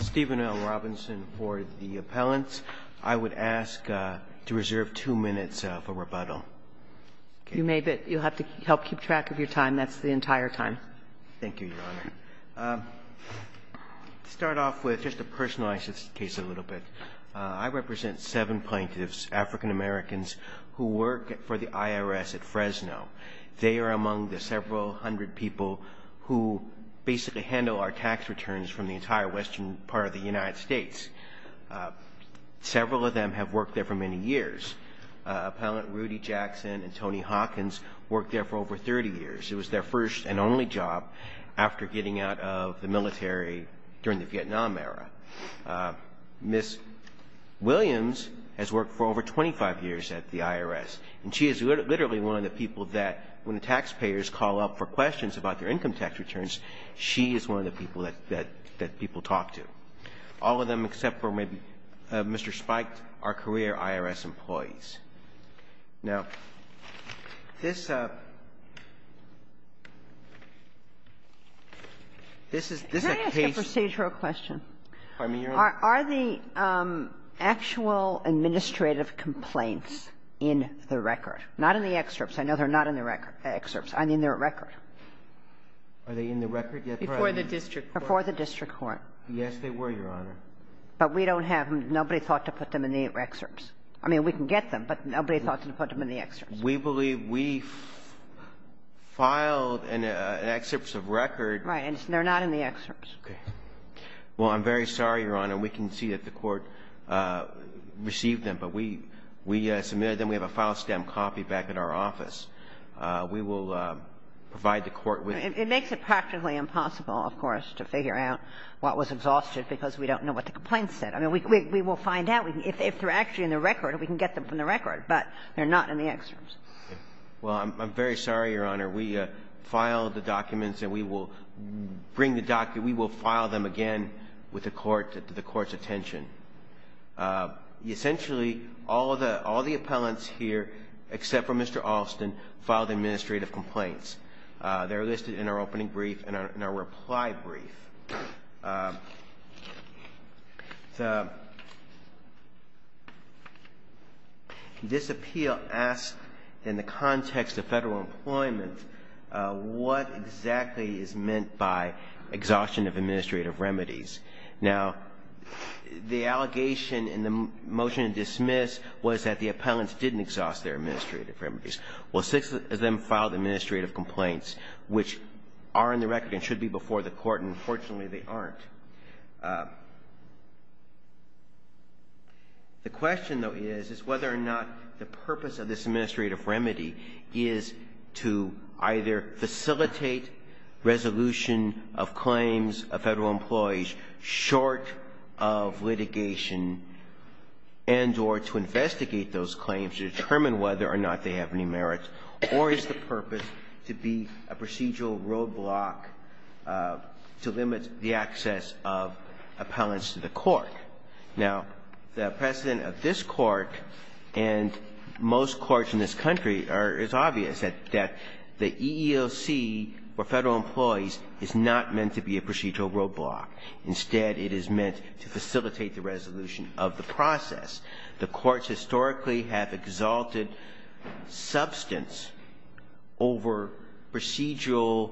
Stephen L. Robinson for the appellants. I would ask to reserve two minutes for rebuttal. You'll have to help keep track of your time. That's the entire time. Thank you, Your Honor. To start off with, just to personalize this case a little bit, I represent seven plaintiffs, African Americans, who work for the IRS at Fresno. They are among the several hundred people who basically handle our tax returns from the entire western part of the United States. Several of them have worked there for many years. Appellant Rudy Jackson and Tony Hawkins worked there for over 30 years. It was their first and only job after getting out of the military during the Vietnam era. Ms. Williams has worked for over 25 years at the IRS, and she is literally one of the people that, when the taxpayers call up for questions about their income tax returns, she is one of the people that people talk to. All of them, except for maybe Mr. Spike, are career IRS employees. Now, this is a case of the actual administrative complaints in the record. Not in the excerpts. I know they're not in the excerpts. I mean, they're a record. Are they in the record yet, Your Honor? Before the district court. Before the district court. Yes, they were, Your Honor. But we don't have them. Nobody thought to put them in the excerpts. I mean, we can get them, but nobody thought to put them in the excerpts. We believe we filed an excerpt of record. Right. And they're not in the excerpts. Okay. Well, I'm very sorry, Your Honor. We can see that the Court received them, but we submitted them. We have a file stamp copy back at our office. We will provide the Court with them. It makes it practically impossible, of course, to figure out what was exhausted because we don't know what the complaint said. I mean, we will find out. If they're actually in the record, we can get them from the record. But they're not in the excerpts. Well, I'm very sorry, Your Honor. We filed the documents, and we will bring the document. We will file them again with the Court's attention. Essentially, all the appellants here, except for Mr. Alston, filed administrative complaints. They're listed in our opening brief and our reply brief. This appeal asks, in the context of federal employment, what exactly is meant by exhaustion of administrative remedies. Now, the allegation in the motion to dismiss was that the appellants didn't exhaust their administrative remedies. Well, six of them filed administrative complaints, which are in the record and should be before the Court, and unfortunately, they aren't. The question, though, is whether or not the purpose of this administrative remedy is to either facilitate resolution of claims of federal employees short of litigation and or to investigate those claims to determine whether or not they have any merit, or is the purpose to be a procedural roadblock to limit the access of appellants to the Court. Now, the precedent of this Court and most courts in this country is obvious, that the EEOC for federal employees is not meant to be a procedural roadblock. Instead, it is meant to facilitate the resolution of the process. The courts historically have exalted substance over procedural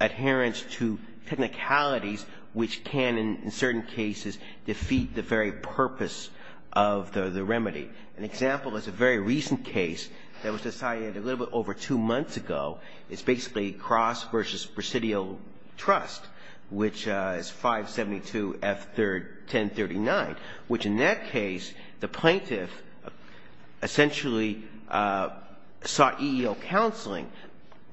adherence to technicalities which can, in certain cases, defeat the very purpose of the remedy. An example is a very recent case that was decided a little bit over two months ago. It's basically Cross v. Presidio Trust, which is 572 F. 1039, which in that case, the plaintiff essentially sought EEO counseling.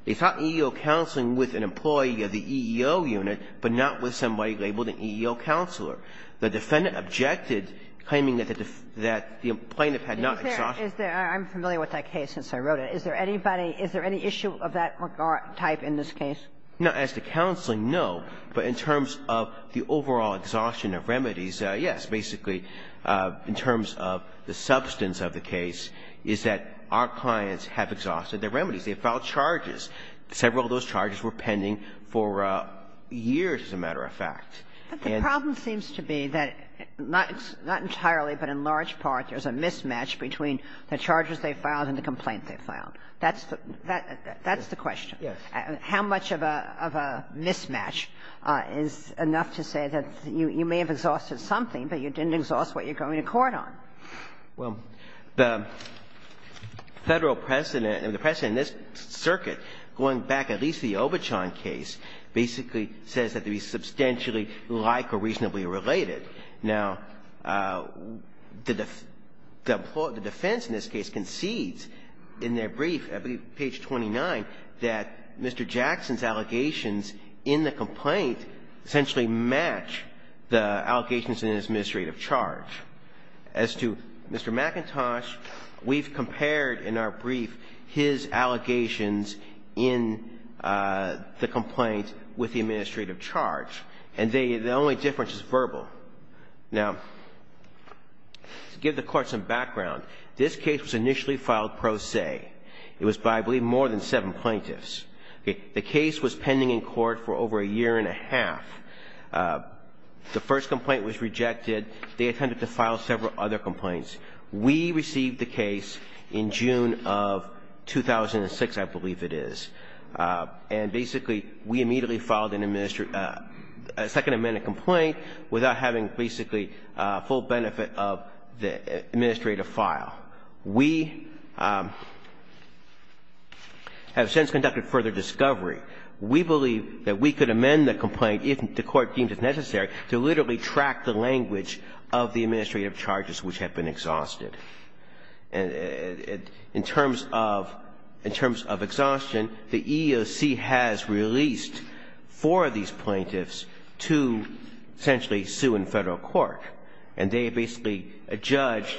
They sought EEO counseling with an employee of the EEO unit, but not with somebody labeled an EEO counselor. The defendant objected, claiming that the plaintiff had not exalted. I'm familiar with that case since I wrote it. Is there anybody – is there any issue of that type in this case? No. As to counseling, no. But in terms of the overall exhaustion of remedies, yes. Basically, in terms of the substance of the case, is that our clients have exhausted their remedies. They filed charges. Several of those charges were pending for years, as a matter of fact. But the problem seems to be that not entirely, but in large part, there's a mismatch between the charges they filed and the complaint they filed. That's the – that's the question. Yes. How much of a mismatch is enough to say that you may have exhausted something, but you didn't exhaust what you're going to court on? Well, the Federal precedent, and the precedent in this circuit, going back at least to the Obertshohn case, basically says that they substantially like or reasonably related. Now, the defense in this case concedes in their brief, I believe page 29, that Mr. Jackson's allegations in the complaint essentially match the allegations in his administrative charge. As to Mr. McIntosh, we've compared in our brief his allegations in the complaint with the administrative charge. And they – the only difference is verbal. Now, to give the Court some background, this case was initially filed pro se. It was by, I believe, more than seven plaintiffs. The case was pending in court for over a year and a half. The first complaint was rejected. They attempted to file several other complaints. We received the case in June of 2006, I believe it is. And basically, we immediately filed a second amendment complaint without having basically full benefit of the administrative file. We have since conducted further discovery. We believe that we could amend the complaint, if the Court deems it necessary, to literally track the language of the administrative charges which have been exhausted. And in terms of – in terms of exhaustion, the EEOC has released four of these plaintiffs to essentially sue in Federal court. And they basically adjudged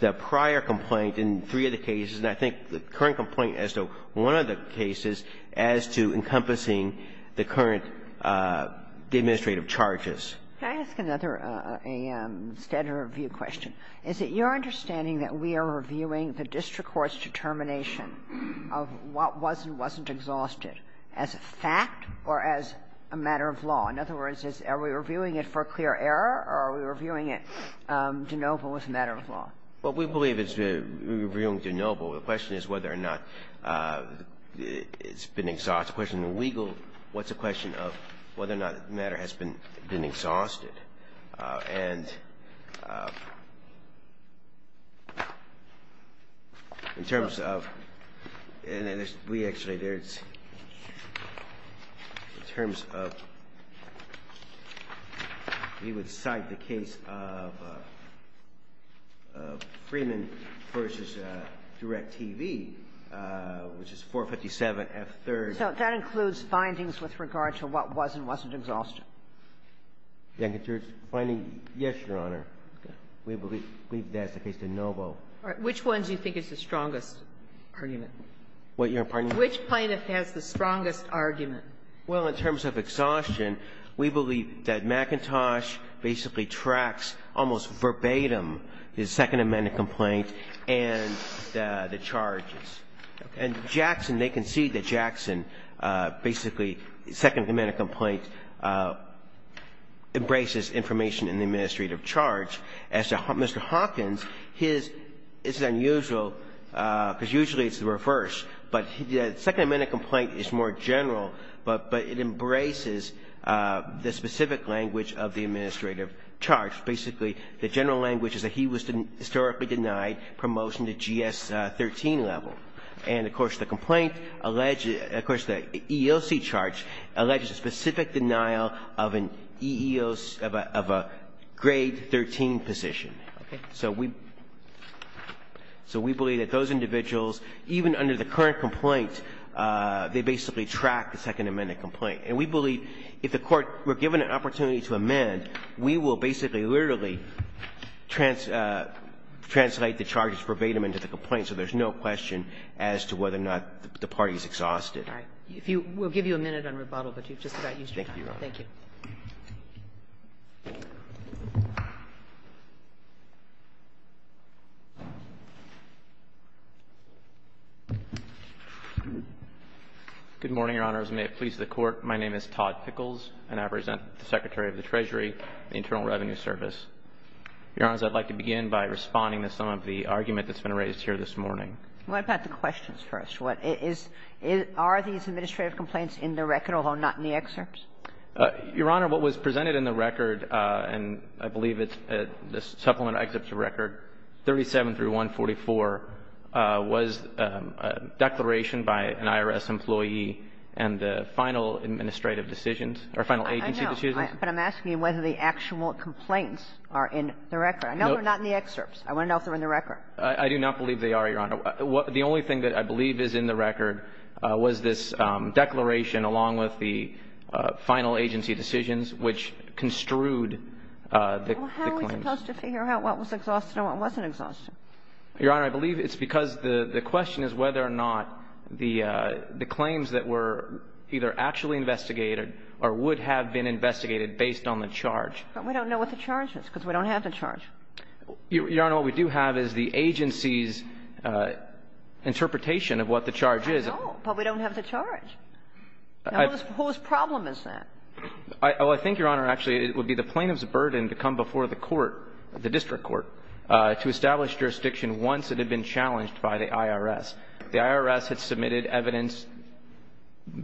the prior complaint in three of the cases, and I think the current complaint as to one of the cases, as to encompassing the current administrative charges. Can I ask another standard of review question? Is it your understanding that we are reviewing the district court's determination of what was and wasn't exhausted as a fact or as a matter of law? In other words, are we reviewing it for clear error, or are we reviewing it de novo as a matter of law? Well, we believe it's reviewing de novo. The question is whether or not it's been exhausted. It's a question of legal – what's a question of whether or not the matter has been exhausted. And in terms of – and we actually, there's – in terms of – we would cite the case of Freeman v. DirecTV, which is 457F3rd. So that includes findings with regard to what was and wasn't exhausted. McIntosh's finding, yes, Your Honor. We believe that's the case de novo. All right. Which one do you think is the strongest argument? What? Your pardon? Which plaintiff has the strongest argument? Well, in terms of exhaustion, we believe that McIntosh basically tracks almost verbatim his Second Amendment complaint and the charges. And Jackson, they concede that Jackson basically, Second Amendment complaint, embraces information in the administrative charge. As to Mr. Hawkins, his is unusual, because usually it's the reverse. But the Second Amendment complaint is more general, but it embraces the specific language of the administrative charge. Basically, the general language is that he was historically denied promotion to GS-13 level. And, of course, the complaint alleges – of course, the EEOC charge alleges a specific denial of an EEOC – of a grade 13 position. Okay. So we – so we believe that those individuals, even under the current complaint, they basically track the Second Amendment complaint. And we believe if the Court were given an opportunity to amend, we will basically literally translate the charges verbatim into the complaint, so there's no question as to whether or not the party's exhausted. All right. If you – we'll give you a minute on rebuttal, but you've just about used your time. Thank you, Your Honor. Thank you. Good morning, Your Honors, and may it please the Court. My name is Todd Pickles, and I present to the Secretary of the Treasury the Internal Revenue Service. Your Honors, I'd like to begin by responding to some of the argument that's been raised here this morning. What about the questions first? What is – are these administrative complaints in the record, although not in the excerpts? Your Honor, what was presented in the record, and I believe it's – this supplement excerpt's a record, 37 through 144, was a declaration by an IRS employee and the final administrative decisions – or final agency decisions. I know. But I'm asking you whether the actual complaints are in the record. I know they're not in the excerpts. I want to know if they're in the record. I do not believe they are, Your Honor. The only thing that I believe is in the record was this declaration along with the final agency decisions, which construed the claims. Well, how are we supposed to figure out what was exhausted and what wasn't exhausted? Your Honor, I believe it's because the question is whether or not the claims that were either actually investigated or would have been investigated based on the charge. But we don't know what the charge is, because we don't have the charge. Your Honor, what we do have is the agency's interpretation of what the charge is. I know, but we don't have the charge. Now, whose problem is that? Well, I think, Your Honor, actually it would be the plaintiff's burden to come before the court, the district court, to establish jurisdiction once it had been challenged by the IRS. The IRS had submitted evidence,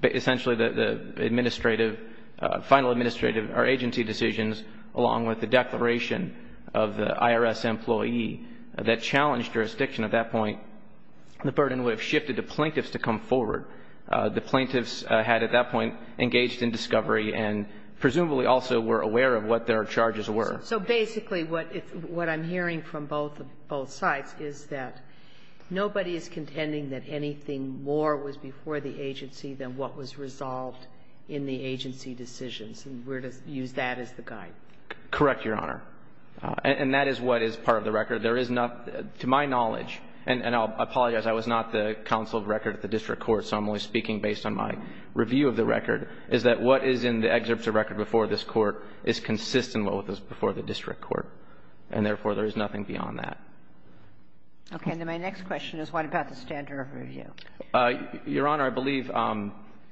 essentially the administrative – final administrative or agency decisions along with the declaration of the IRS employee that challenged jurisdiction at that point. The burden would have shifted to plaintiffs to come forward. The plaintiffs had at that point engaged in discovery and presumably also were aware of what their charges were. So basically what I'm hearing from both sides is that nobody is contending that anything more was before the agency than what was resolved in the agency decisions. And we're to use that as the guide. Correct, Your Honor. And that is what is part of the record. There is not – to my knowledge, and I'll apologize, I was not the counsel of record at the district court, so I'm only speaking based on my review of the record, is that what is in the excerpt of record before this Court is consistent with what was before the district court, and therefore there is nothing beyond that. Okay. Then my next question is what about the standard of review? Your Honor, I believe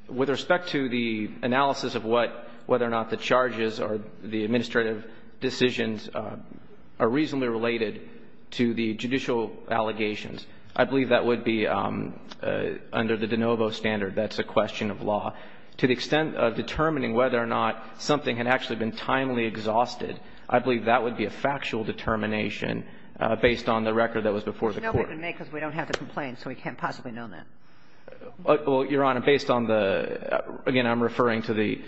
with respect to the analysis of what – whether or not the charges or the administrative decisions are reasonably related to the judicial allegations, I believe that would be under the de novo standard. That's a question of law. To the extent of determining whether or not something had actually been timely exhausted, I believe that would be a factual determination based on the record that was before the Court. I don't know because we don't have to complain, so we can't possibly know that. Well, Your Honor, based on the – again, I'm referring to the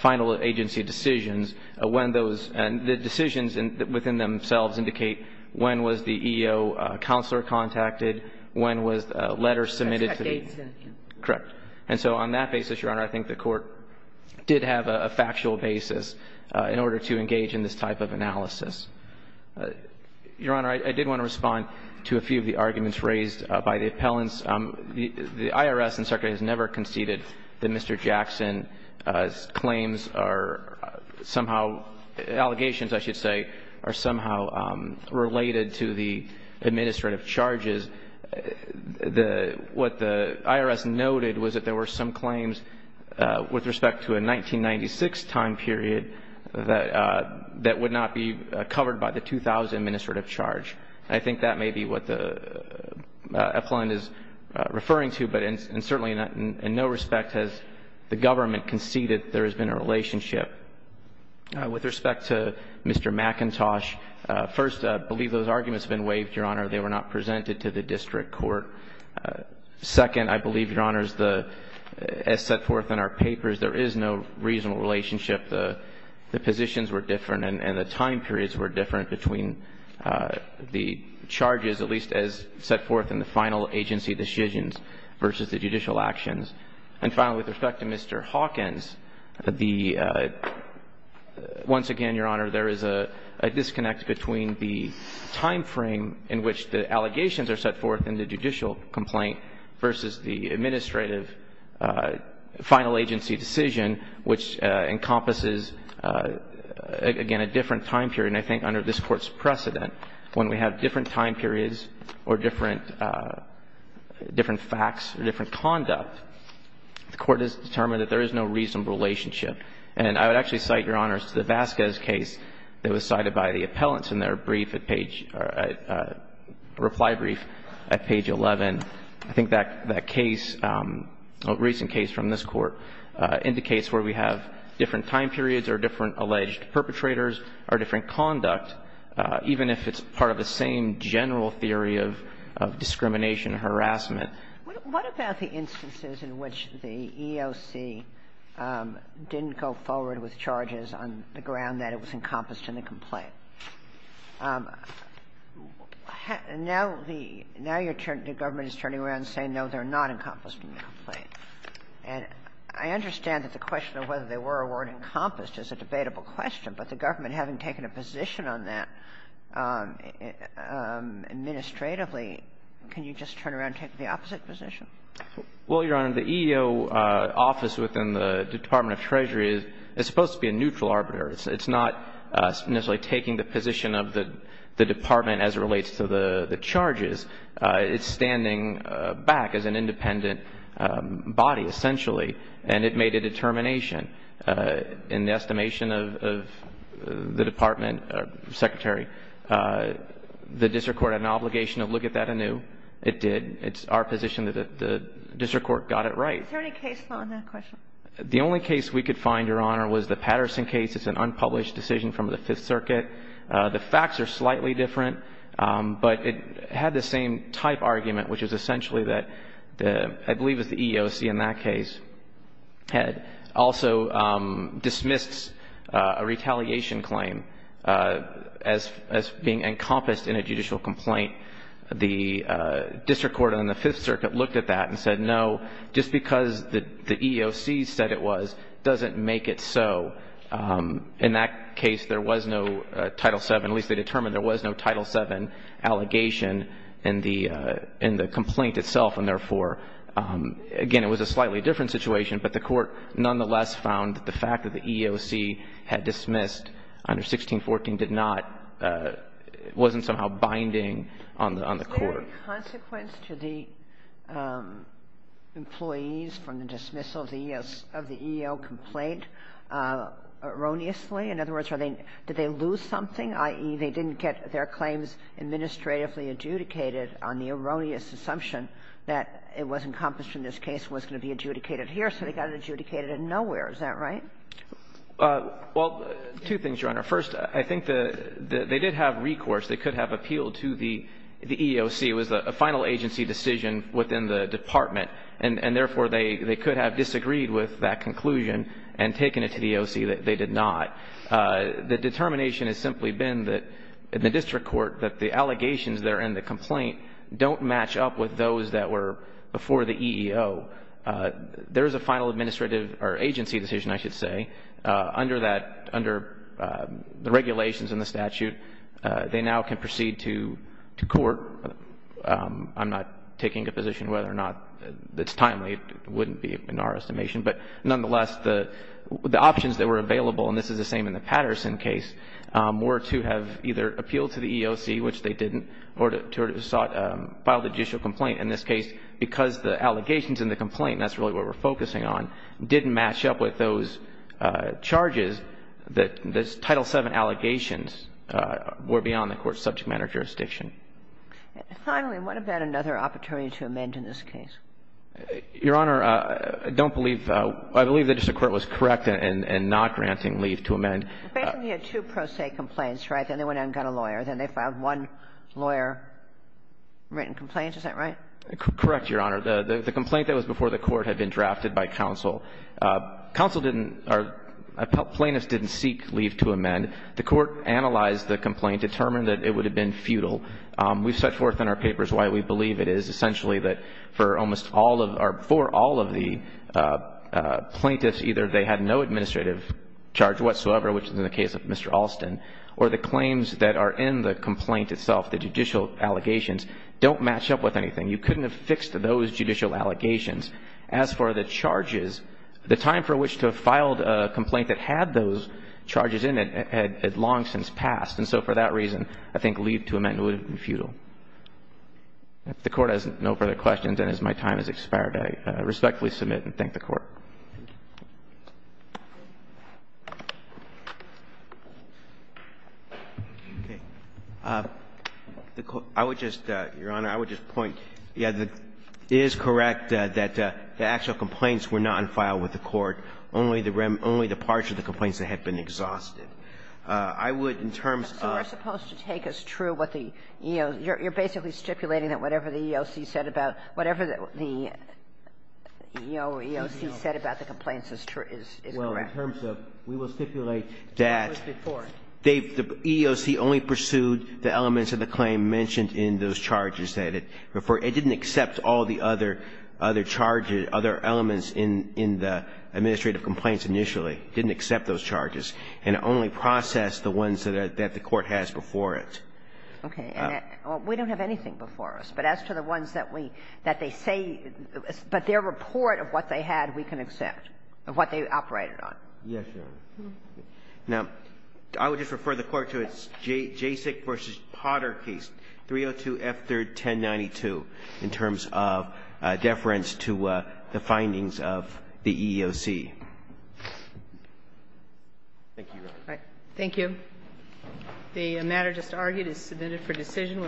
final agency decisions when those – and the decisions within themselves indicate when was the EEO counselor contacted, when was letters submitted to the – That's decades in – Correct. And so on that basis, Your Honor, I think the Court did have a factual basis in order to engage in this type of analysis. Your Honor, I did want to respond to a few of the arguments raised by the appellants. The IRS, in fact, has never conceded that Mr. Jackson's claims are somehow – allegations, I should say, are somehow related to the administrative charges. The – what the IRS noted was that there were some claims with respect to a 1996 time period that would not be covered by the 2000 administrative charge. I think that may be what the appellant is referring to, but in – and certainly in no respect has the government conceded there has been a relationship. With respect to Mr. McIntosh, first, I believe those arguments have been waived, Your Honor. They were not presented to the district court. Second, I believe, Your Honors, the – as set forth in our papers, there is no reasonable relationship. The positions were different and the time periods were different between the charges, at least as set forth in the final agency decisions versus the judicial actions. And finally, with respect to Mr. Hawkins, the – once again, Your Honor, there is a disconnect between the timeframe in which the allegations are set forth in the judicial complaint versus the administrative final agency decision, which encompasses, again, a different time period. And I think under this Court's precedent, when we have different time periods or different facts or different conduct, the Court has determined that there is no reasonable relationship. And I would actually cite, Your Honors, the Vasquez case that was cited by the appellants in their brief at page – reply brief at page 11. I think that case, a recent case from this Court, indicates where we have different time periods or different alleged perpetrators or different conduct, even if it's part of the same general theory of discrimination and harassment. What about the instances in which the EOC didn't go forward with charges on the ground that it was encompassed in the complaint? Now the – now the Government is turning around and saying, no, they're not encompassed in the complaint. And I understand that the question of whether they were or weren't encompassed is a debatable question, but the Government, having taken a position on that administratively, can you just turn around and take the opposite position? Well, Your Honor, the EEO office within the Department of Treasury is supposed to be a neutral arbiter. It's not necessarily taking the position of the Department as it relates to the charges. It's standing back as an independent body, essentially, and it made a determination. In the estimation of the Department, Secretary, the district court had an obligation to look at that anew. It did. It's our position that the district court got it right. Is there any case on that question? The only case we could find, Your Honor, was the Patterson case. It's an unpublished decision from the Fifth Circuit. The facts are slightly different, but it had the same type argument, which is essentially that the – I believe it was the EEOC in that case – had also dismissed a retaliation claim as being encompassed in a judicial complaint. The district court on the Fifth Circuit looked at that and said, no, just because the EEOC said it was doesn't make it so. In that case, there was no Title VII – at least they determined there was no Title VII allegation in the complaint itself, and therefore – again, it was a slightly different situation, but the court nonetheless found that the fact that the EEOC had dismissed under 1614 did not – wasn't somehow binding on the court. Sotomayor, was there any consequence to the employees from the dismissal of the EEO complaint erroneously? In other words, are they – did they lose something, i.e., they didn't get their claims administratively adjudicated on the erroneous assumption that it was encompassed in this case and was going to be adjudicated here, so they got it adjudicated in nowhere. Is that right? Well, two things, Your Honor. First, I think the – they did have recourse. They could have appealed to the EEOC. It was a final agency decision within the department, and therefore, they could have disagreed with that conclusion and taken it to the EEOC. They did not. The determination has simply been that in the district court that the allegations there in the complaint don't match up with those that were before the EEO. There is a final administrative – or agency decision, I should say. Under that – under the regulations in the statute, they now can proceed to court. I'm not taking a position whether or not it's timely. It wouldn't be in our estimation. But nonetheless, the options that were available, and this is the same in the Patterson case, were to have either appealed to the EEOC, which they didn't, or to sort of file the judicial complaint. In this case, because the allegations in the complaint, and that's really what we're talking about here, were beyond the court's subject matter jurisdiction. And finally, what about another opportunity to amend in this case? Your Honor, I don't believe – I believe the district court was correct in not granting leave to amend. Basically, they had two pro se complaints, right? Then they went out and got a lawyer. Then they filed one lawyer-written complaint. Is that right? Correct, Your Honor. The complaint that was before the court had been drafted by counsel. Counsel didn't – plaintiffs didn't seek leave to amend. The court analyzed the complaint, determined that it would have been futile. We've set forth in our papers why we believe it is, essentially that for almost all of – or for all of the plaintiffs, either they had no administrative charge whatsoever, which is in the case of Mr. Alston, or the claims that are in the complaint itself, the judicial allegations, don't match up with anything. You couldn't have fixed those judicial allegations. As for the charges, the time for which to have filed a complaint that had those charges in it had long since passed. And so for that reason, I think leave to amend would have been futile. If the Court has no further questions, and as my time has expired, I respectfully submit and thank the Court. Thank you. I would just – Your Honor, I would just point – yeah, it is correct that the actual complaints were not in file with the Court, only the rem – only the parts of the complaints that had been exhausted. I would, in terms of – So we're supposed to take as true what the EEOC – you're basically stipulating that whatever the EEOC said about – whatever the EEOC said about the complaints is true – is correct. Well, in terms of – we will stipulate that the EEOC only pursued the elements of the claim mentioned in those charges that it referred – it didn't accept all the other charges, other elements in the administrative complaints initially. It didn't accept those charges and only processed the ones that the Court has before it. Okay. And we don't have anything before us. But as to the ones that we – that they say – but their report of what they had, we can accept, of what they operated on. Yes, Your Honor. Now, I would just refer the Court to its JASIC v. Potter case, 302 F. 3rd, 1092, in terms of deference to the findings of the EEOC. Thank you, Your Honor. Thank you. The matter just argued is submitted for decision.